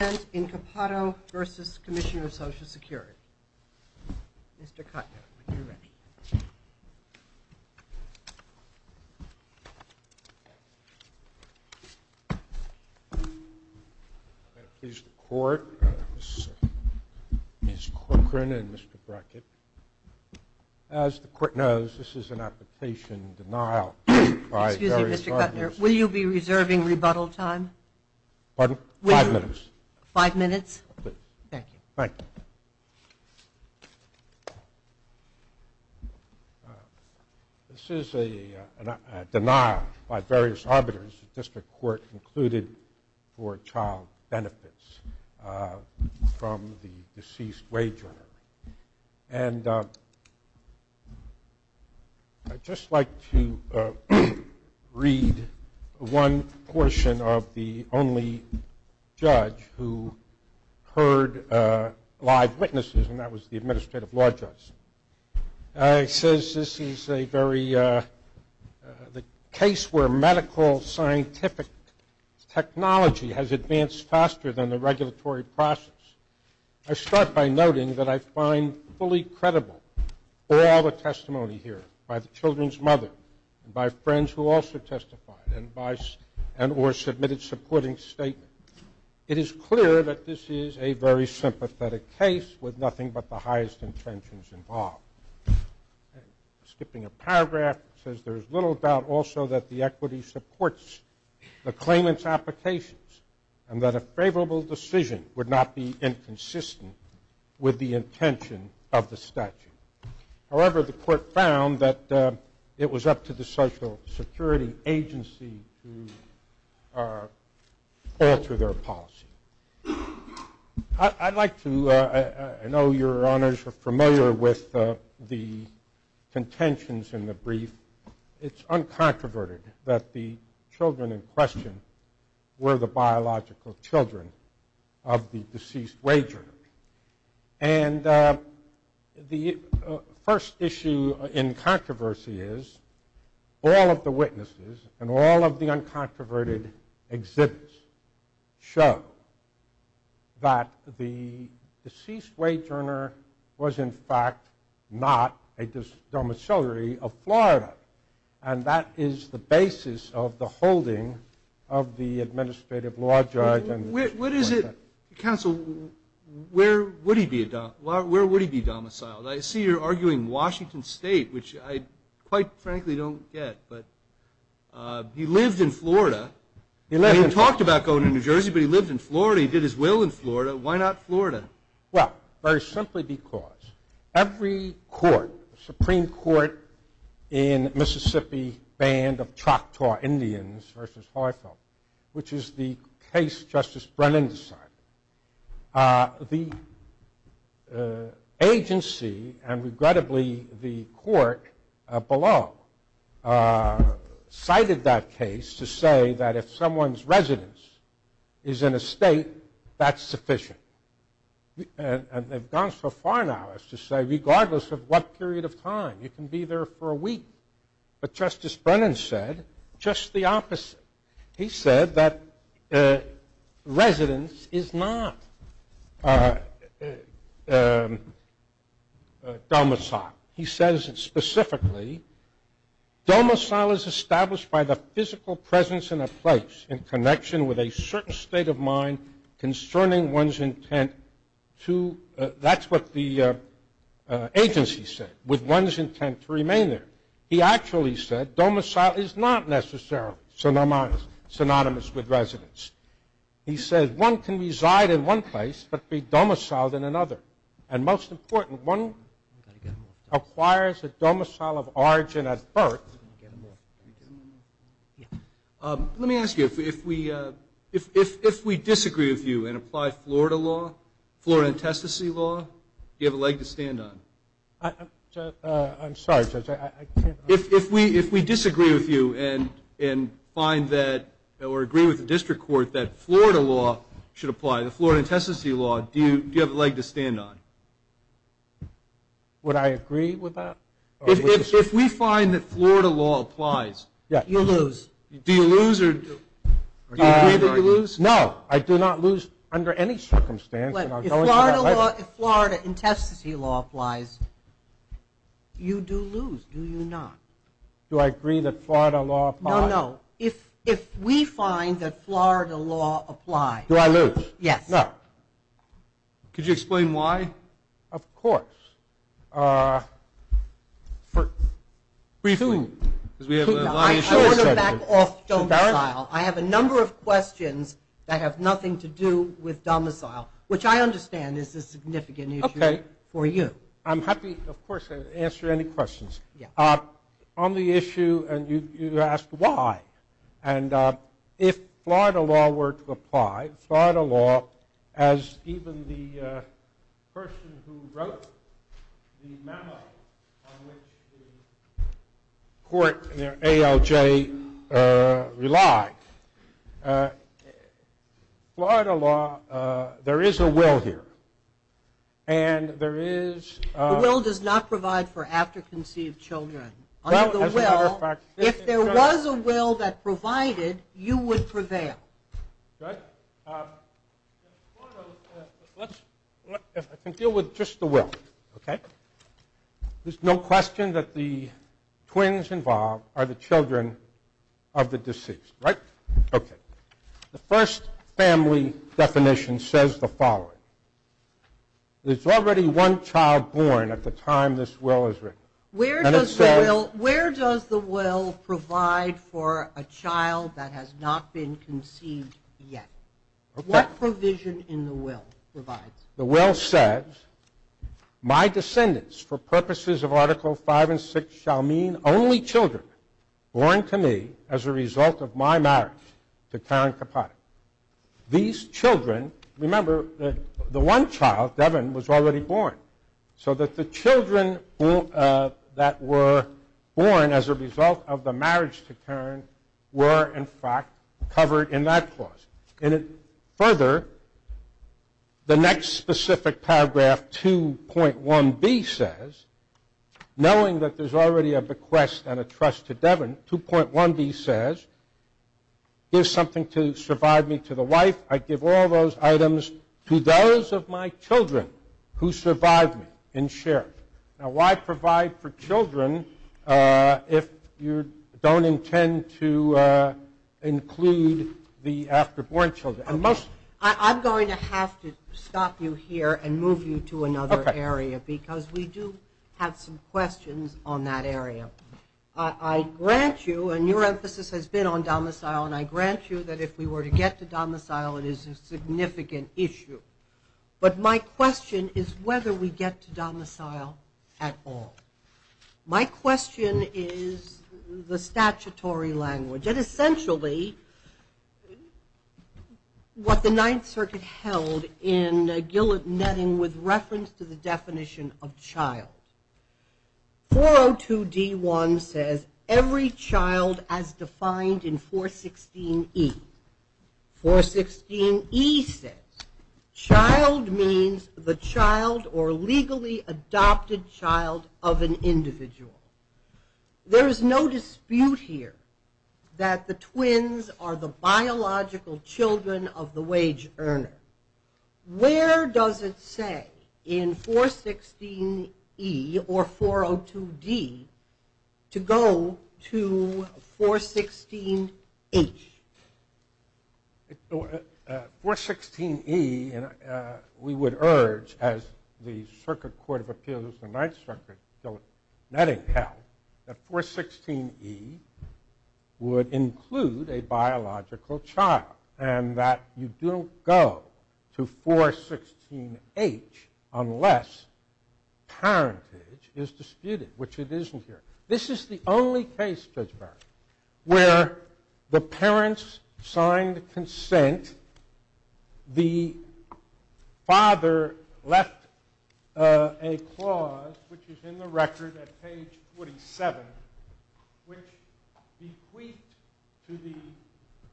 Mr. Kuttner, are you ready? I'm going to please the Court, Ms. Corcoran and Mr. Brackett. As the Court knows, this is an application denial by various parties. Excuse me, Mr. Kuttner. Will you be reserving rebuttal time? Pardon? Five minutes. Thank you. This is a denial by various arbiters, the District Court included, for child benefits from the deceased wager. I'd just like to read one portion of the only judge who heard live witnesses, and that was the administrative law judge. It says this is a very, the case where medical scientific technology has advanced faster than the regulatory process. I start by noting that I find fully credible all the testimony here, by the children's mother, by friends who also testified, and by, and or submitted supporting statements. It is clear that this is a very sympathetic case with nothing but the highest intentions involved. Skipping a paragraph, it says there is little doubt also that the equity supports the claimant's applications, and that a favorable decision would not be inconsistent with the intention of the statute. However, the court found that it was up to the social security agency to alter their policy. I'd like to, I know your honors are familiar with the contentions in the brief. It's uncontroverted that the children in question were the biological children of the deceased wager. And the first issue in controversy is, all of the witnesses and all of the uncontroverted exhibits show that the deceased wage earner was in fact not a domiciliary of Florida. And that is the basis of the holding of the administrative law judge. What is it, counsel, where would he be domiciled? I see you're arguing Washington State, which I quite frankly don't get. He lived in Florida. He talked about going to New Jersey, but he lived in Florida. He did his will in Florida. Why not Florida? Well, very simply because every court, Supreme Court in Mississippi banned the Choctaw Indians versus Heufel, which is the case Justice Brennan decided. The agency, and regrettably the court below, cited that case to say that if someone's residence is in a state, that's sufficient. And they've gone so far now as to say regardless of what period of time, you can be there for a week. But Justice Brennan said just the opposite. He said that residence is not domiciled. He says specifically, domicile is established by the physical presence in a place in connection with a certain state of mind concerning one's intent to, that's what the agency said, with one's intent to remain there. He actually said domicile is not necessarily synonymous with residence. He said one can reside in one place but be domiciled in another. And most important, one acquires a domicile of origin at birth. Let me ask you, if we disagree with you and apply Florida law, Florida intestacy law, do you have a leg to stand on? If we disagree with you and find that, or agree with the district court that Florida law should apply, the Florida intestacy law, do you have a leg to stand on? Would I agree with that? If we find that Florida law applies, do you lose? No, I do not lose under any circumstance. If Florida intestacy law applies, you do lose, do you not? Do I agree that Florida law applies? No, no, if we find that Florida law applies. Do I lose? Yes. Could you explain why? Of course. I have a number of questions that have nothing to do with domicile, which I understand is a significant issue for you. I'm happy, of course, to answer any questions. You asked why, and if Florida law were to apply, Florida law, as even the person who wrote the memo on which the court, ALJ, relied, Florida law, there is a will here. The will does not provide for after conceived children. If there was a will that provided, you would prevail. I can deal with just the will. There is no question that the twins involved are the children of the deceased. The first family definition says the following. There is already one child born at the time this will is written. Where does the will provide for a child that has not been conceived yet? What provision in the will provides? My descendants, for purposes of article 5 and 6, shall mean only children born to me as a result of my marriage to Karen Capote. These children, remember the one child, Devin, was already born. So that the children that were born as a result of the marriage to Karen Capote. Further, the next specific paragraph 2.1B says, knowing that there is already a bequest and a trust to Devin, 2.1B says, give something to survive me to the wife. I give all those items to those of my children who survive me in share. Now why provide for children if you don't intend to include the after-born children? I'm going to have to stop you here and move you to another area because we do have some questions on that area. I grant you, and your emphasis has been on domicile, and I grant you that if we were to get to domicile it is a domicile at all. My question is the statutory language, and essentially what the 9th Circuit held in Gillett-Netting with reference to the definition of child. 402D1 says every child as defined in 416E. 416E says child means the child or legally adopted child of an individual. There is no dispute here that the twins are the biological children of the wage earner. Where does it say in 416E or 402D to go to 416H? 416E we would urge as the Circuit Court of Appeals of the 9th Circuit in Gillett-Netting held that 416E would include a biological child and that you don't go to 416H unless parentage is disputed, which it isn't here. This is the only case, Judge Barrett, where the parents signed consent, the father left a clause, which is in the record at page 27, which bequeathed to the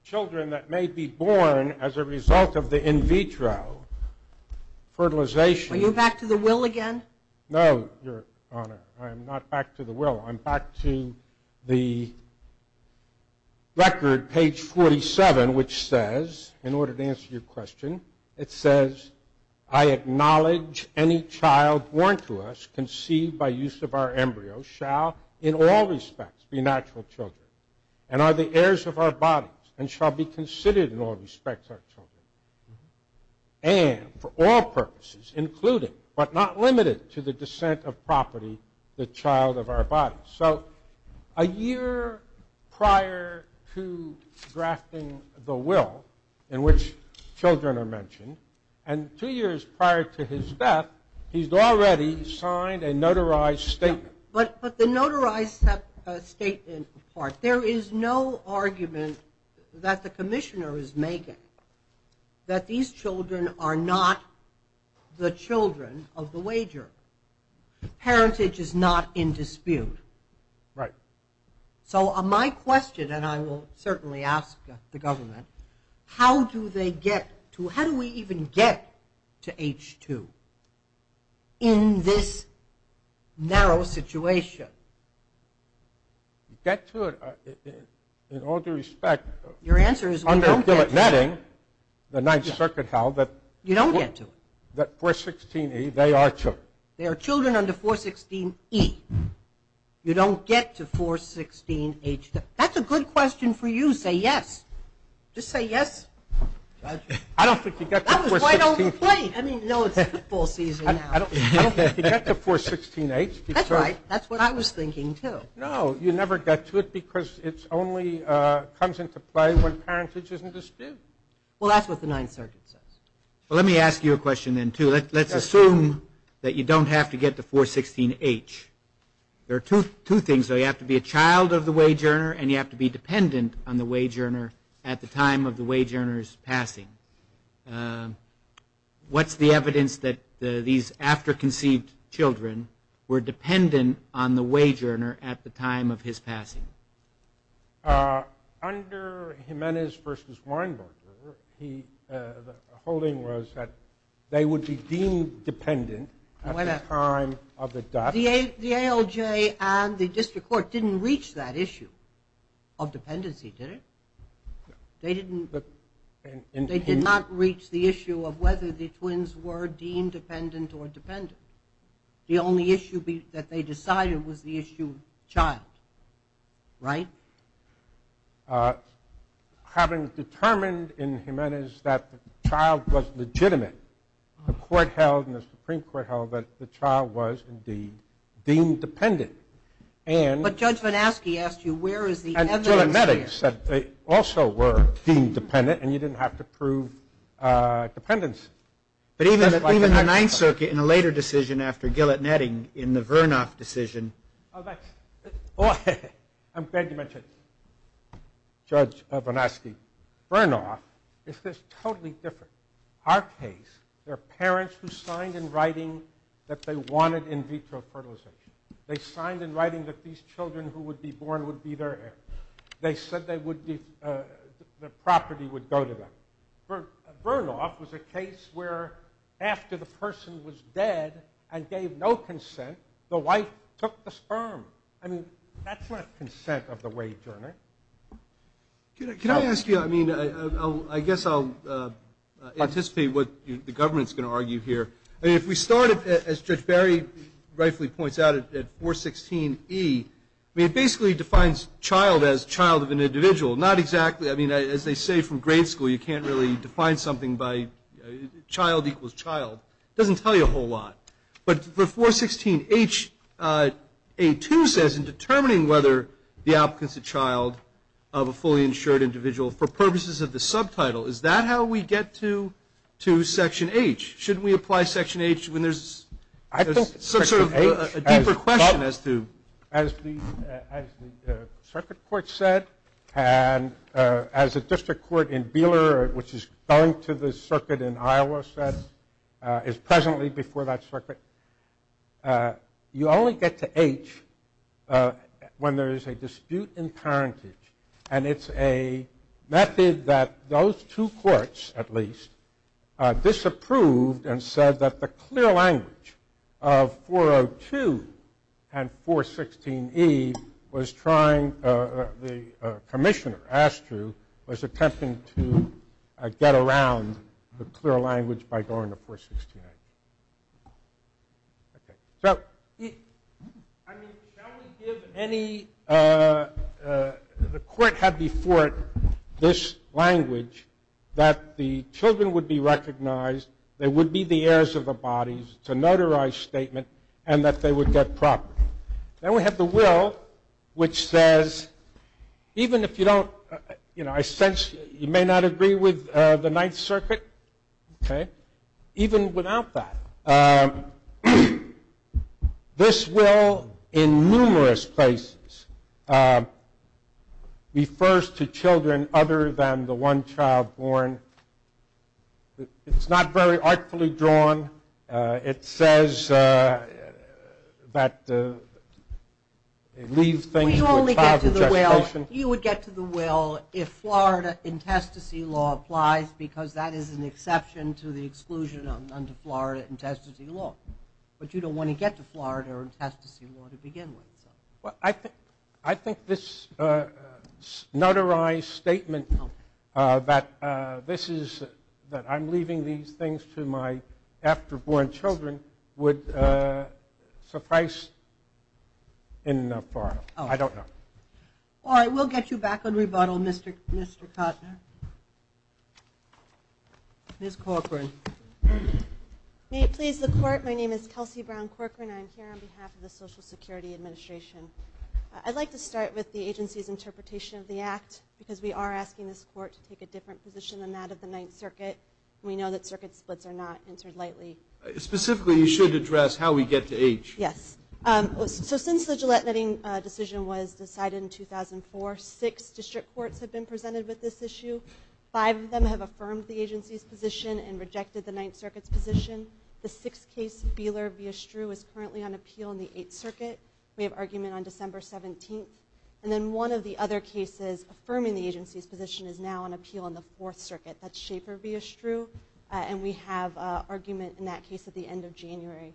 children that may be born as a result of the in vitro fertilization. Are you back to the will again? No, Your Honor. I'm not back to the will. I'm back to the record, page 47, which says, in order to answer your question, it says I acknowledge any child born to us conceived by use of our embryo shall in all respects be natural children and are the heirs of our bodies and shall be considered in all respects our children and for all purposes, including but not limited to the descent of property, the child of our bodies. So a year prior to drafting the will in which children are mentioned and two years prior to his death, he's already signed a notarized statement. But the notarized statement part, there is no argument that the commissioner is making that these children are not the children of the wager. Parentage is not in dispute. Right. So my question, and I will certainly ask the government, how do they get to, how do we even get to H2 in this narrow situation? You get to it in all due respect. Your answer is we don't get to it. Under Gillett-Netting, the Ninth Circuit held that 416E, they are children. They are children under 416E. You don't get to 416H2. That's a good question for you. Just say yes. I don't think you get to 416H2. I don't think you get to 416H2. That's right. That's what I was thinking too. No, you never get to it because it only comes into play when parentage isn't disputed. Well, that's what the Ninth Circuit says. Let me ask you a question then too. Let's assume that you don't have to get to 416H. There are two things. You have to be a child of the wage earner and you have to be dependent on the wage earner at the time of the wage earner's passing. What's the evidence that these after-conceived children were dependent on the wage earner at the time of his passing? Under Jimenez v. Weinberger, the holding was that they would be deemed dependent at the time of the death. The ALJ and the District Court didn't reach that issue of dependency, did it? They did not reach the issue of whether the twins were deemed dependent or dependent. The only issue that they decided was the issue of child, right? Having determined in Jimenez that the child was legitimate, the Supreme Court held that the child was indeed deemed dependent. But Judge Van Aske asked you where is the evidence there? They also were deemed dependent and you didn't have to prove dependency. But even the Ninth Circuit in a later decision after Gillett-Netting in the Ninth Circuit, Judge Van Aske, Bernoff, this is totally different. Our case, there are parents who signed in writing that they wanted in vitro fertilization. They signed in writing that these children who would be born would be their heir. They said their property would go to them. Bernoff was a case where after the person was dead and gave no evidence, the child would be their heir. I mean, that's not consent of the wage earner. Can I ask you, I mean, I guess I'll anticipate what the government's going to argue here. I mean, if we start, as Judge Barry rightfully points out at 416E, I mean, it basically defines child as child of an individual. Not exactly. I mean, as they say from grade school, you can't really define something by child equals child. It doesn't tell you a whole lot. But for 416H, A2 says in determining whether the applicant's a child of a fully insured individual for purposes of the subtitle. Is that how we get to Section H? Shouldn't we apply Section H when there's sort of a deeper question as to... And as a district court in Beeler, which is going to the circuit in Iowa, is presently before that circuit. You only get to H when there is a dispute in parentage. And it's a method that those two courts, at least, disapproved and said that the clear language of 402 and 416E was trying... Commissioner Astru was attempting to get around the clear language by going to 416A. I mean, shall we give any... The court had before it this language that the children would be recognized, they would be the heirs of the bodies, it's a notarized statement, and that they would get property. Then we have the will, which says, even if you don't... I sense you may not agree with the Ninth Circuit. Even without that, this will in numerous places refers to children other than the one child born. It's not very artfully drawn. It says that... You would get to the will if Florida intestacy law applies, because that is an exception to the exclusion under Florida intestacy law. But you don't want to get to Florida intestacy law to begin with. I think this notarized statement that I'm leaving these things to my after-born children would suffice in Florida. I don't know. All right, we'll get you back on rebuttal, Mr. Kottner. Ms. Corcoran. My name is Kelsey Brown Corcoran. I'm here on behalf of the Social Security Administration. I'd like to start with the agency's interpretation of the act, because we are asking this court to take a different position than that of the Ninth Circuit. We know that circuit splits are not entered lightly. Specifically, you should address how we get to age. Since the Gillette-Netting decision was decided in 2004, six district courts have been presented with this issue. Five of them have affirmed the agency's position and rejected the Ninth Circuit's position. The sixth case, Beeler v. Estrue, is currently on appeal in the Eighth Circuit. We have argument on December 17th. One of the other cases affirming the agency's position is now on appeal in the Fourth Circuit. That's Shaper v. Estrue, and we have argument in that case at the end of January.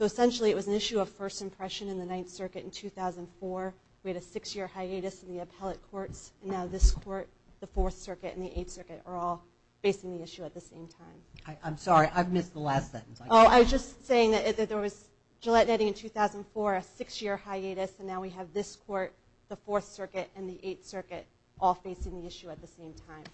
Essentially, it was an issue of first impression in the Ninth Circuit in 2004. We had a six-year hiatus in the appellate courts, and now this court, the Fourth Circuit, and the Eighth Circuit are all facing the issue at the same time. I'm sorry. I've missed the last sentence. I was just saying that there was Gillette-Netting in 2004, a six-year hiatus, and now we have this court, the Fourth Circuit, and the Eighth Circuit all facing the issue at the same time.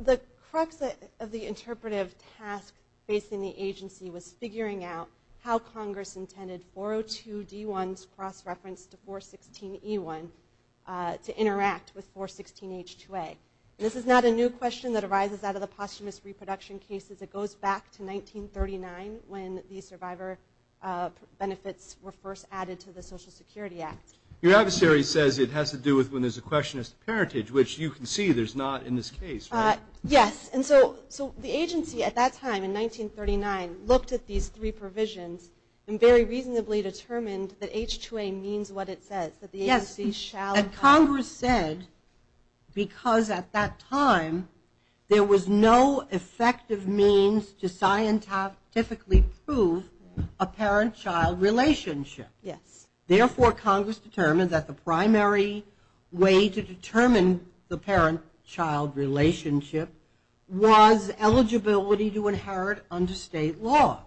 The crux of the interpretive task facing the agency was figuring out how Congress intended 402D1's cross-reference to 416E1 to interact with 416H2A. This is not a new question that arises out of the posthumous reproduction cases. It goes back to 1939 when the survivor benefits were first added to the Social Security Act. Your adversary says it has to do with when there's a question of parentage, which you can see there's not in this case. Yes. The agency at that time, in 1939, looked at these three provisions and very reasonably determined that H2A means what it says, that the agency shall... Yes, and Congress said because at that time there was no effective means to scientifically prove a parent-child relationship. Therefore, Congress determined that the primary way to determine the parent-child relationship was eligibility to inherit under state law.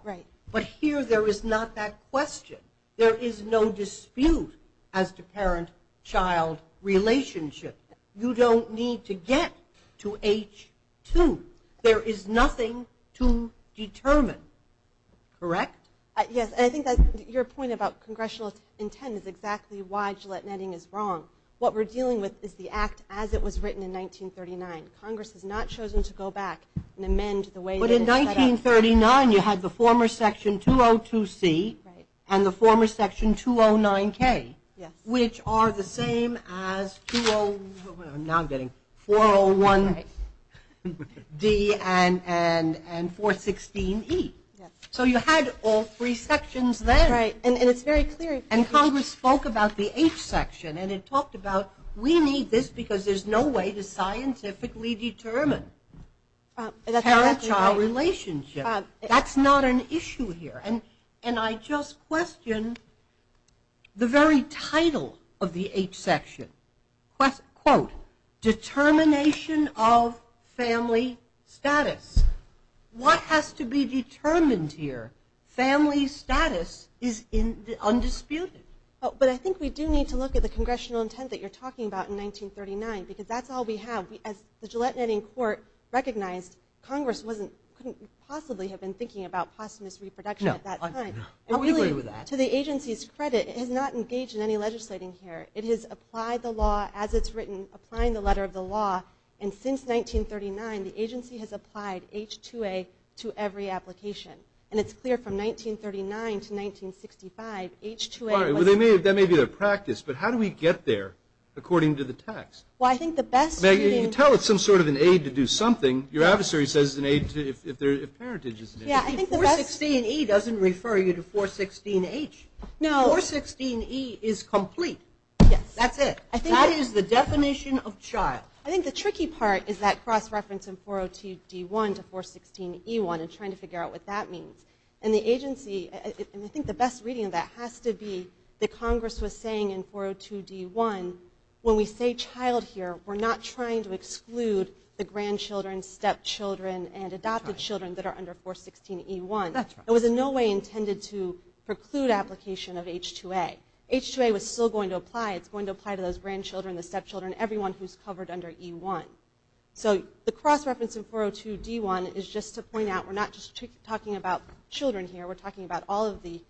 But here there is not that question. There is no dispute as to parent-child relationship. You don't need to get to H2. There is nothing to determine. Correct? Yes, and I think your point about congressional intent is exactly why Gillette-Netting is wrong. What we're dealing with is the act as it was written in 1939. Congress has not chosen to go back and amend the way it was set up. But in 1939 you had the former section 202C and the former section 209K, which are the same as 401D and 416E. So you had all three sections then. And Congress spoke about the H section and it talked about we need this because there's no way to scientifically determine parent-child relationship. That's not an issue here. And I just question the very title of the H section, quote, determination of family status. What has to be determined here? Family status is undisputed. But I think we do need to look at the congressional intent that you're talking about in 1939 because that's all we have. As the Gillette-Netting court recognized, Congress couldn't possibly have been thinking about posthumous reproduction at that time. To the agency's credit, it has not engaged in any legislating here. It has applied the law as it's written, applying the letter of the law. And since 1939, the agency has applied H2A to every application. And it's clear from 1939 to 1965, H2A was... That may be their practice, but how do we get there according to the text? Well, I think the best... 416E doesn't refer you to 416H. 416E is complete. That's it. That is the definition of child. I think the tricky part is that cross-reference in 402D1 to 416E1 and trying to figure out what that means. And the agency... And I think the best reading of that has to be that Congress was saying in 402D1, when we say child here, we're not trying to exclude the grandchildren, stepchildren, and adopted children that are under 416E1. It was in no way intended to preclude application of H2A. H2A was still going to apply. It's going to apply to those grandchildren, the stepchildren, everyone who's covered under E1. So the cross-reference in 402D1 is just to point out we're not just talking about children here. We're talking about all of the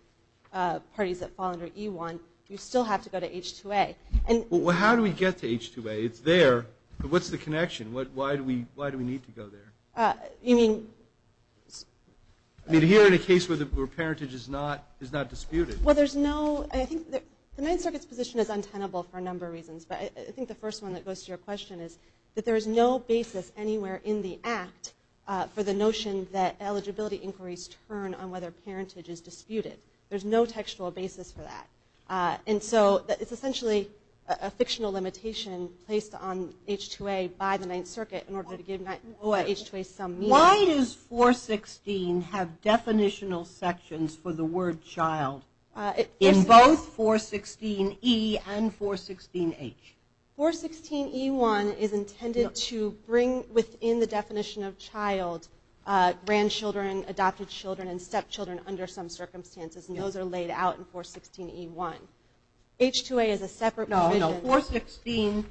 parties that fall under E1. You still have to go to H2A. How do we get to H2A? It's there, but what's the connection? Why do we need to go there? Here in a case where parentage is not disputed. The Ninth Circuit's position is untenable for a number of reasons, but I think the first one that goes to your question is that there is no basis anywhere in the Act for the notion that eligibility inquiries turn on whether parentage is disputed. There's no textual basis for that. And so it's essentially a fictional limitation placed on H2A by the Ninth Circuit in order to give H2A some meaning. Why does 416 have definitional sections for the word child in both 416E and 416H? 416E1 is intended to bring within the definition of child grandchildren, adopted children, and stepchildren under some circumstances. And those are laid out in 416E1. H2A is a separate provision. No, no. 416E1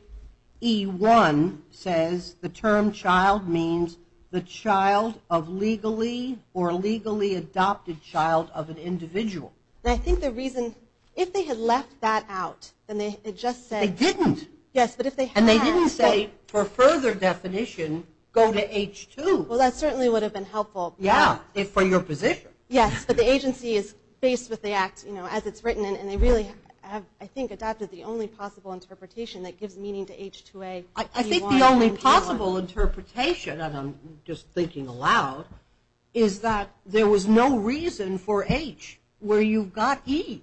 says the term child means the child of legally or legally adopted child of an individual. I think the reason, if they had left that out, then they had just said... They didn't. And they didn't say for further definition, go to H2. Well, that certainly would have been helpful. Yeah, for your position. Yes, but the agency is faced with the Act as it's written, and they really have, I think, adopted the only possible interpretation that gives meaning to H2AE1 and E1. I think the only possible interpretation, and I'm just thinking aloud, is that there was no reason for H where you've got E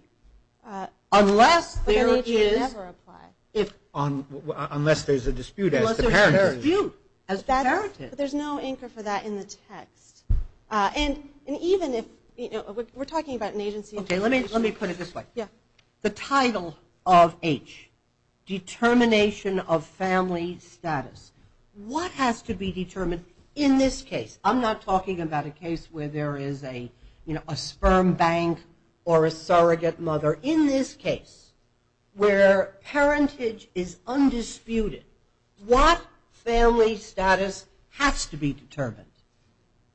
unless there is... But then H would never apply. Unless there's a dispute as the parent is. There's no anchor for that in the text. And even if... We're talking about an agency... Okay, let me put it this way. The title of H, determination of family status. What has to be determined in this case? I'm not talking about a case where there is a sperm bank or a surrogate mother. In this case, where parentage is undisputed, what family status has to be determined?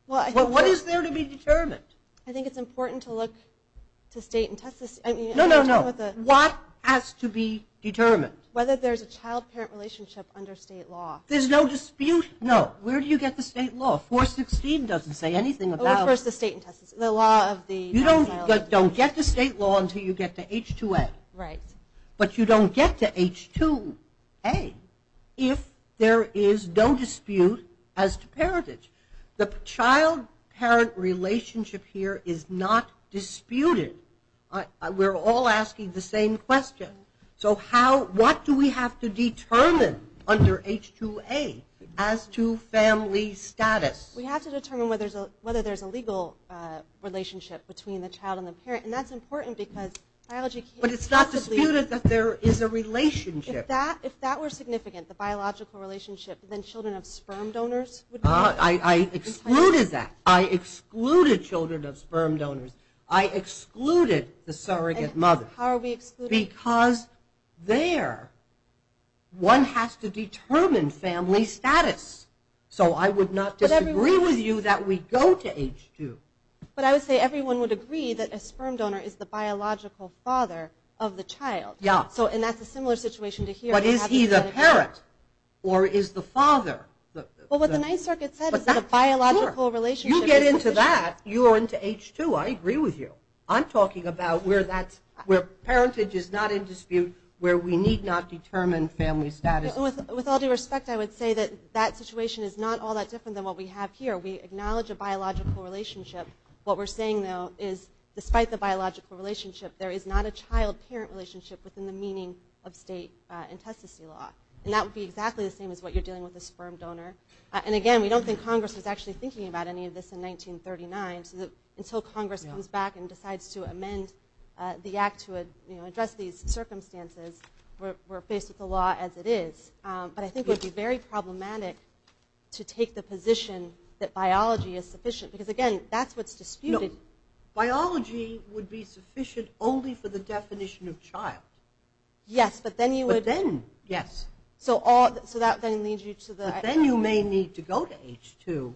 What is there to be determined? I think it's important to look to state and... No, no, no. What has to be determined? Whether there's a child-parent relationship under state law. There's no dispute, no. Where do you get the state law? 416 doesn't say anything about... What's the state in Texas? The law of the... You don't get the state law until you get to H2A. Right. But you don't get to H2A if there is no dispute as to parentage. The child-parent relationship here is not disputed. We're all asking the same question. So what do we have to determine under H2A as to family status? We have to determine whether there's a legal relationship between the child and the parent. And that's important because... But it's not disputed that there is a relationship. If that were significant, the biological relationship, then children of sperm donors would be... I excluded that. I excluded children of sperm donors. I excluded the surrogate mother. How are we excluding... Because there one has to determine family status. So I would not disagree with you that we go to H2. But I would say everyone would agree that a sperm donor is the biological father of the child. Yeah. And that's a similar situation to here. But is he the parent or is the father? Well, what the Ninth Circuit said is that the biological relationship... Sure. You get into that, you go into H2. I agree with you. I'm talking about where parentage is not in dispute, where we need not determine family status. With all due respect, I would say that that situation is not all that different than what we have here. We acknowledge a biological relationship. What we're saying, though, is despite the biological relationship, there is not a child-parent relationship within the meaning of state intestacy law. And that would be exactly the same as what you're dealing with a sperm donor. And again, we don't think Congress was actually thinking about any of this in 1939. So until Congress comes back and decides to amend the Act to address these circumstances, we're faced with the law as it is. But I think it would be very problematic to take the position that biology is sufficient. Because again, that's what's disputed. No. Biology would be sufficient only for the definition of child. Yes, but then you would... But then, yes. So that then leads you to the... But then you may need to go to H2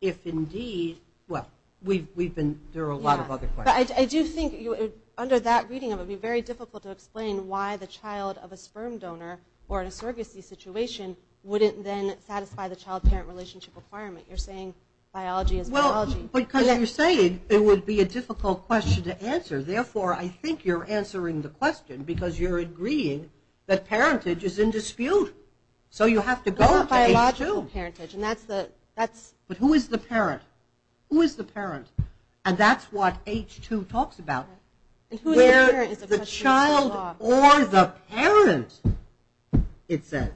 if indeed... Well, we've been... There are a lot of other questions. Yeah. But I do think under that reading, it would be very difficult to explain why the child of a sperm donor, or in a surrogacy situation, wouldn't then satisfy the child-parent relationship requirement. You're saying biology is biology. Well, because you're saying it would be a difficult question to answer. Therefore, I think you're answering the question because you're agreeing that parentage is in dispute. So you have to go to H2. It's not biological parentage. And that's the... But who is the parent? Who is the parent? And that's what H2 talks about. And who is the parent is a question of state law. Where the child or the parent, it says.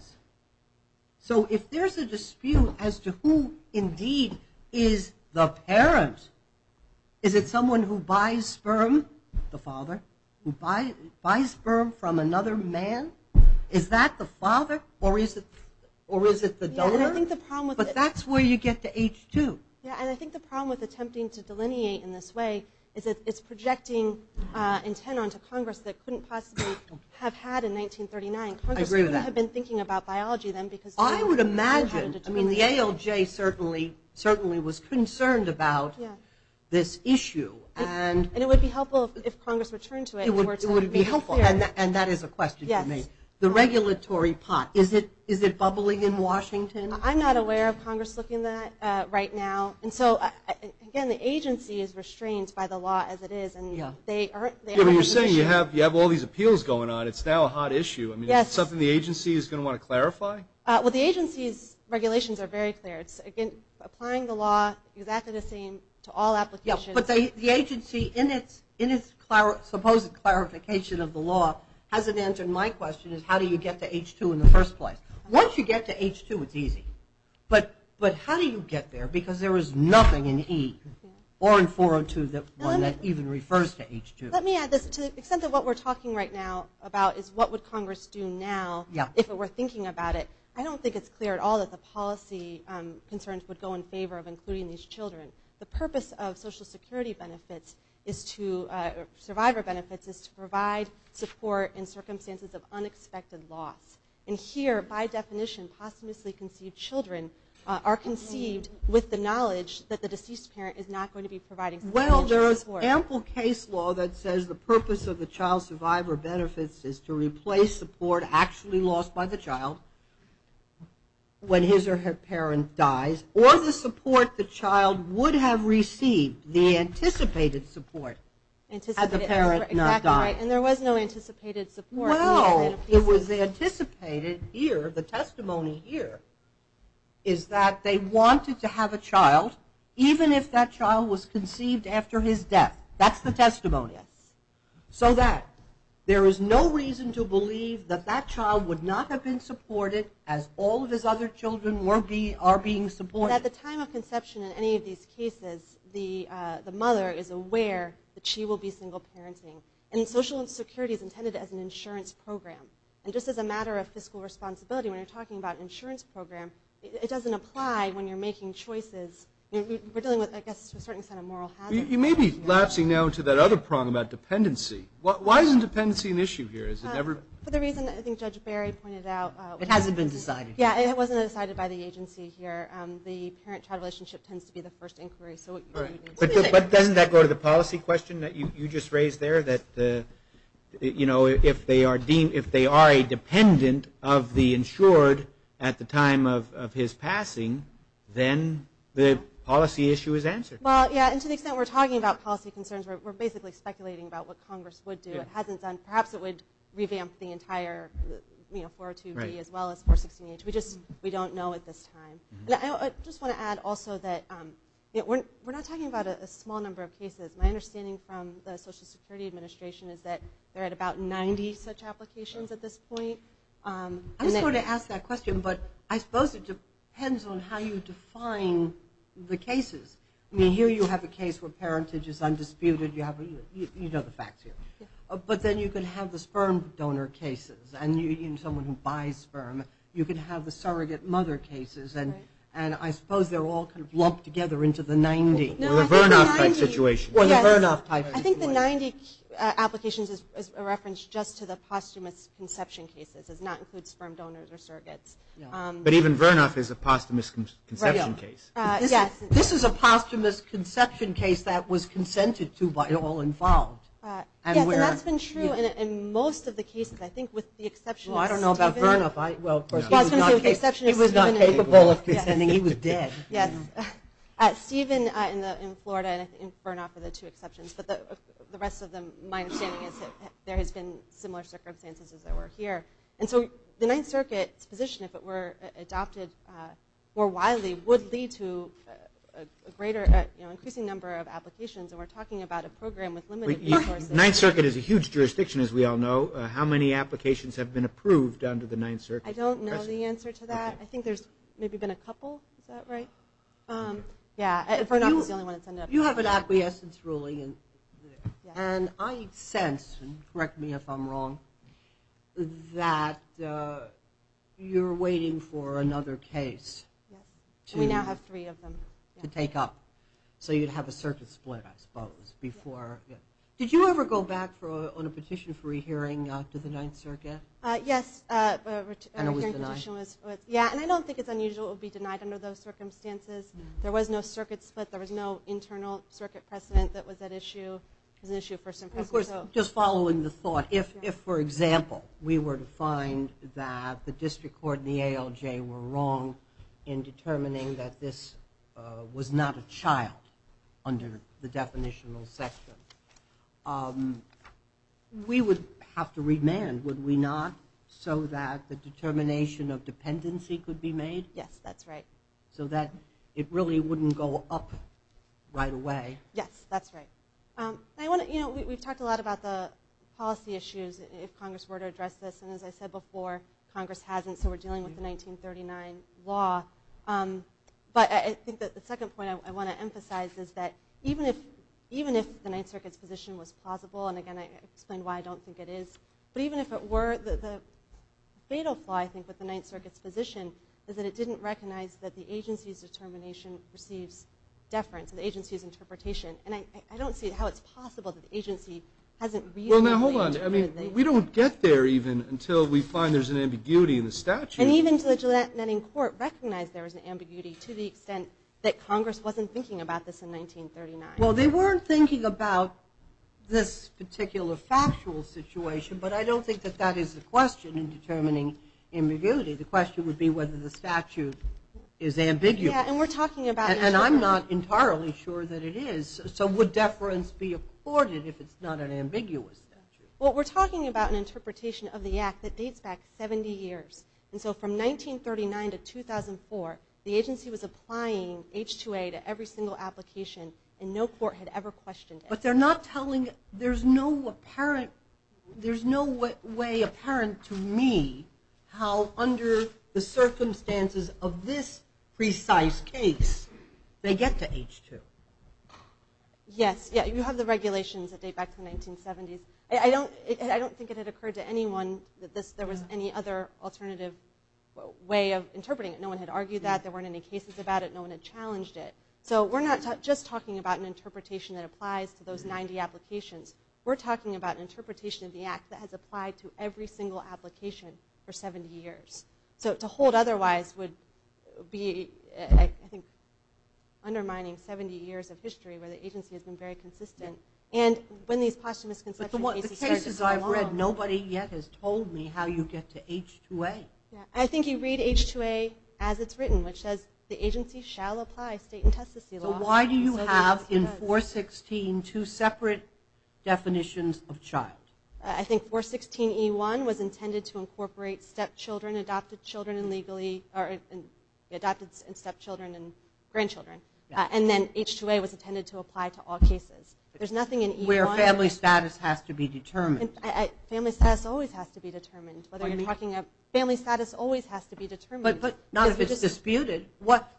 So if there's a dispute as to who indeed is the parent, is it someone who buys sperm, the father, who buys sperm from another man? Is that the father? Or is it the donor? But that's where you get to H2. Yeah, and I think the problem with attempting to delineate in this way is that it's I agree with that. Congress wouldn't have been thinking about biology then because... I would imagine, I mean, the ALJ certainly was concerned about this issue. And it would be helpful if Congress returned to it. It would be helpful. And that is a question for me. The regulatory pot, is it bubbling in Washington? I'm not aware of Congress looking at that right now. And so, again, the agency is restrained by the law as it is. You're saying you have all these appeals going on. It's now a hot issue. Is it something the agency is going to want to clarify? Well, the agency's regulations are very clear. It's applying the law exactly the same to all applications. But the agency, in its supposed clarification of the law, hasn't answered my question of how do you get to H2 in the first place. Once you get to H2, it's easy. But how do you get there? Because there is nothing in E or in 402 that even refers to H2. Let me add this. To the extent that what we're talking right now about is what would Congress do now if it were thinking about it, I don't think it's clear at all that the policy concerns would go in favor of including these children. The purpose of Social Security benefits is to survivor benefits is to provide support in circumstances of unexpected loss. And here, by definition, posthumously conceived children are conceived with the knowledge that the deceased parent is not going to be providing financial support. Well, there is ample case law that says the purpose of the child survivor benefits is to replace support actually lost by the child when his or her parent dies or the support the child would have received, the anticipated support, had the parent not died. And there was no anticipated support. Well, it was anticipated here, the testimony here, is that they wanted to have a child even if that child was conceived after his death. That's the testimony. So that there is no reason to believe that that child would not have been supported as all of his other children are being supported. At the time of conception in any of these cases, the mother is aware that she will be single parenting. And Social Security is intended as an insurance program. And just as a matter of fiscal responsibility, when you're talking about an insurance program, it doesn't apply when you're making choices. We're dealing with, I guess, a certain set of moral hazards. You may be lapsing now into that other prong about dependency. Why isn't dependency an issue here? For the reason that I think Judge Barry pointed out. It hasn't been decided. Yeah, it wasn't decided by the agency here. The parent-child relationship tends to be the first inquiry. But doesn't that go to the policy question that you just raised there? If they are a dependent of the insured at the time of his passing, then the policy issue is answered. Well, yeah, and to the extent we're talking about policy concerns, we're basically speculating about what Congress would do. It hasn't done. Perhaps it would revamp the entire 402D as well as 416H. We don't know at this time. I just want to add also that we're not talking about a small number of cases. My understanding from the Social Security Administration is that they're at about 90 such applications at this point. I just want to ask that question, but I suppose it depends on how you define the cases. Here you have a case where parentage is undisputed. You know the facts here. But then you could have the sperm donor cases and someone who buys sperm. You could have the surrogate mother cases, and I suppose they're all lumped together into the 90. Or the Vernoff type situation. I think the 90 applications is a reference just to the posthumous conception cases. It does not include sperm donors or surrogates. But even Vernoff is a posthumous conception case. This is a posthumous conception case that was consented to by all involved. Yes, and that's been true in most of the cases. I don't know about Vernoff. He was not capable of consenting. He was dead. Steven in Florida and Vernoff are the two exceptions. But the rest of them, my understanding is that there has been similar circumstances as there were here. And so the Ninth Circuit's position, if it were adopted more widely, would lead to an increasing number of applications. And we're talking about a program with limited resources. Ninth Circuit is a huge jurisdiction, as we all know. How many applications have been approved under the Ninth Circuit? I don't know the answer to that. I think there's maybe been a couple. You have an acquiescence ruling. And I sense, correct me if I'm wrong, that you're waiting for another case to take up. Did you ever go back on a petition for a re-hearing to the Ninth Circuit? Yes, and I don't think it's unusual to be denied under those circumstances. There was no circuit split. There was no internal circuit precedent that was at issue. Of course, just following the thought, if, for example, we were to find that the district court and the ALJ were wrong in determining that this was not a child under the definitional section, we would have to remand, would we not, so that the determination of dependency could be made? Yes, that's right. So that it really wouldn't go up right away. Yes, that's right. We've talked a lot about the policy issues, if Congress were to address this. And as I said before, Congress hasn't, so we're dealing with the 1939 law. But I think that the second point I want to emphasize is that even if the Ninth Circuit's position was plausible, and again, I explained why I don't think it is, but even if it were, the fatal flaw, I think, with the Ninth Circuit's position is that it didn't recognize that the agency's determination receives deference, the agency's interpretation. And I don't see how it's possible that the agency hasn't reasonably interpreted that. Well, now, hold on. We don't get there even until we find there's an ambiguity in the statute. And even to the Gillette-Netting Court recognized there was an ambiguity to the extent that Congress wasn't thinking about this in 1939. Well, they weren't thinking about this particular factual situation, but I don't think that that is the question in determining ambiguity. The question would be whether the statute is ambiguous. And I'm not entirely sure that it is. So would deference be afforded if it's not an ambiguous statute? Well, we're talking about an interpretation of the Act that dates back 70 years. And so from 1939 to 2004, the agency was applying H-2A to every single application, and no court had ever questioned it. But they're not telling, there's no way apparent to me how under the circumstances of this precise case they get to H-2. Yes, you have the regulations that date back to the 1970s. I don't think it had occurred to anyone that there was any other alternative way of interpreting it. No one had argued that. There weren't any cases about it. No one had challenged it. So we're not just talking about an interpretation that applies to those 90 applications. We're talking about an interpretation of the Act that has applied to every single application for 70 years. So to hold otherwise would be, I think, undermining 70 years of history where the agency has been very consistent. But the cases I've read, nobody yet has told me how you get to H-2A. I think you read H-2A as it's written, which says, So why do you have in 416 two separate definitions of child? I think 416E1 was intended to incorporate adopted stepchildren and grandchildren. And then H-2A was intended to apply to all cases. Where family status has to be determined. Family status always has to be determined.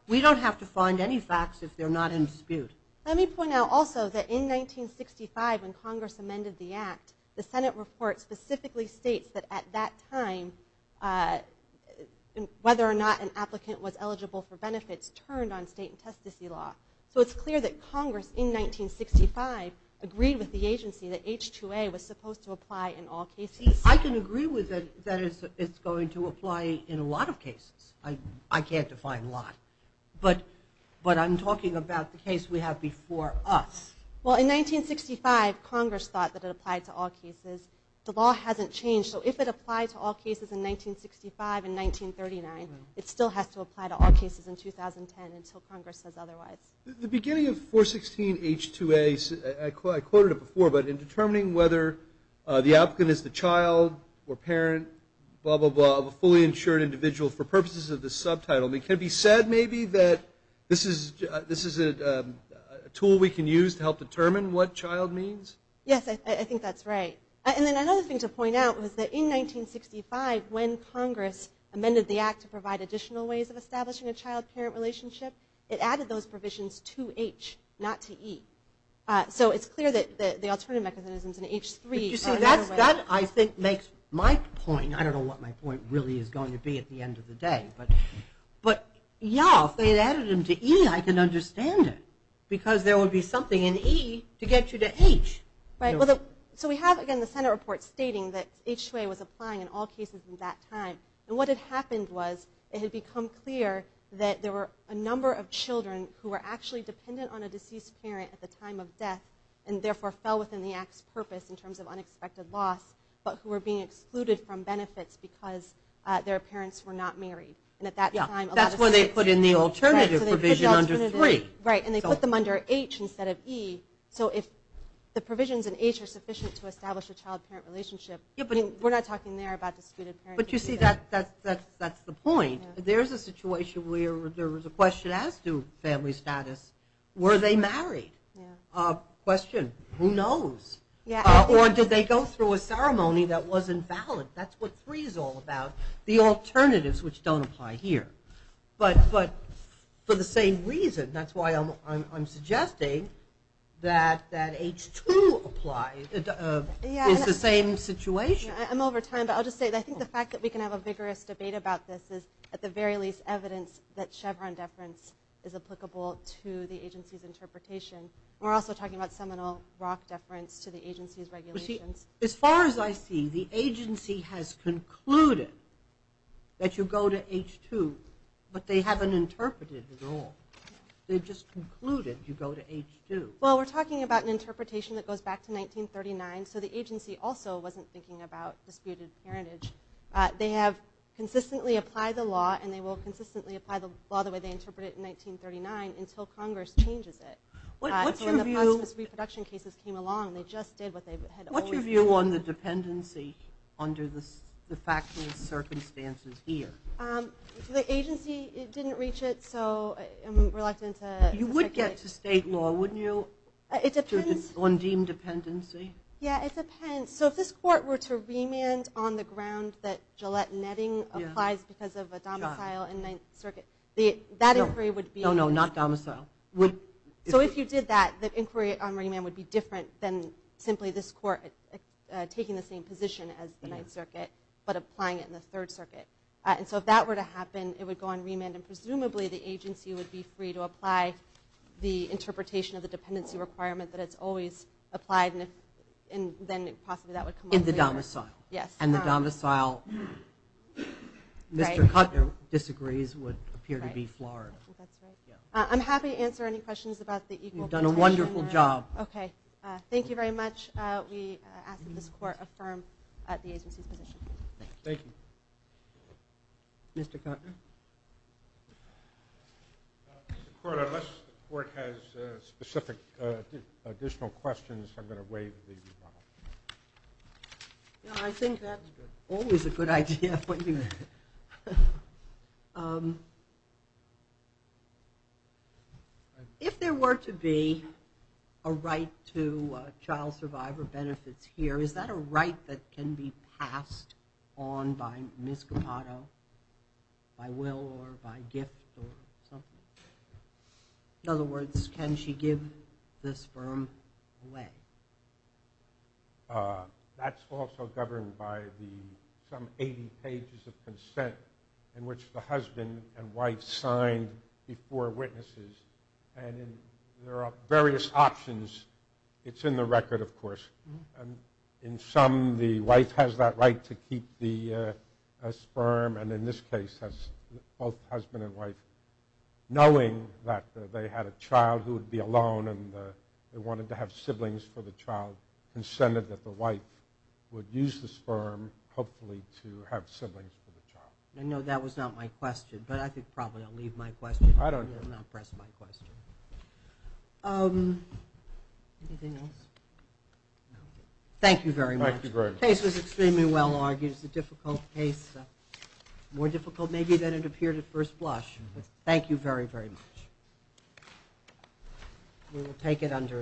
We don't have to find any facts if they're not in dispute. Let me point out also that in 1965 when Congress amended the Act, the Senate report specifically states that at that time whether or not an applicant was eligible for benefits turned on state and testicy law. So it's clear that Congress in 1965 agreed with the agency that H-2A was supposed to apply in all cases. I can agree with it that it's going to apply in a lot of cases. I can't define a lot. But I'm talking about the case we have before us. Well in 1965 Congress thought that it applied to all cases. The law hasn't changed. So if it applied to all cases in 1965 and 1939, it still has to apply to all cases in 2010 until Congress says otherwise. The beginning of 416H2A, I quoted it before, but in determining whether the applicant is the child or parent, blah, blah, blah, of a fully insured individual for purposes of this subtitle, can it be said maybe that this is a tool we can use to help determine what child means? Yes, I think that's right. And then another thing to point out was that in 1965 when Congress amended the act to provide additional ways of establishing a child-parent relationship, it added those provisions to H, not to E. So it's clear that the alternative mechanisms in H-3 are another way. I don't know what my point really is going to be at the end of the day. But yeah, if they had added them to E, I can understand it. Because there would be something in E to get you to H. So we have again the Senate report stating that H-2A was applying in all cases in that time. And what had happened was it had become clear that there were a number of children who were actually dependent on a deceased parent at the time of death and therefore fell within the act's purpose in terms of unexpected loss, but who were being excluded from benefits because their parents were not married. And they put them under H instead of E. So if the provisions in H are sufficient to establish a child-parent relationship, we're not talking there about disputed parents. But you see, that's the point. There's a situation where there was a question as to family status. Were they married? Question. Who knows? Or did they go through a ceremony that wasn't valid? That's what H-3 is all about, the alternatives which don't apply here. But for the same reason, that's why I'm suggesting that H-2 is the same situation. I'm over time, but I think the fact that we can have a vigorous debate about this is at the very least evidence that Chevron deference is applicable to the agency's interpretation. We're also talking about seminal ROC deference to the agency's regulations. As far as I see, the agency has concluded that you go to H-2, but they haven't interpreted it at all. They've just concluded you go to H-2. Well, we're talking about an interpretation that goes back to 1939, so the agency also wasn't thinking about disputed parentage. They have consistently applied the law, and they will consistently apply the law the way they interpreted it in 1939 until Congress changes it. What's your view on the dependency under the factual circumstances here? The agency didn't reach it, so I'm reluctant to speculate. You would get to state law, wouldn't you, on deemed dependency? Yeah, it depends. If this court were to remand on the ground that Gillette Netting applies because of a domicile in the 9th Circuit, that inquiry would be different than simply this court taking the same position as the 9th Circuit but applying it in the 3rd Circuit. If that were to happen, it would go on remand, and presumably the agency would be free to apply the interpretation of the dependency requirement that it's always applied, and then possibly that would come up later. And the domicile Mr. Kuttner disagrees would appear to be Florida. I'm happy to answer any questions about the equal protection. Thank you very much. We ask that this court affirm the agency's position. Thank you. Mr. Kuttner? Unless the court has specific additional questions, I'm going to waive the rebuttal. I think that's always a good idea. If there were to be a right to consent that can be passed on by Ms. Capato by will or by gift or something, in other words, can she give the sperm away? That's also governed by some 80 pages of consent in which the husband and wife sign before witnesses, and there are various options. It's in the record, of course. In some, the wife has that right to keep the sperm, and in this case, both husband and wife, knowing that they had a child who would be alone and they wanted to have siblings for the child, consented that the wife would use the sperm hopefully to have siblings for the child. I know that was not my question, but I think probably I'll leave my question. Anything else? Thank you very much. The case was extremely well argued. It's a difficult case. More difficult maybe than it appeared at first blush, but thank you very, very much. We will take it under advice.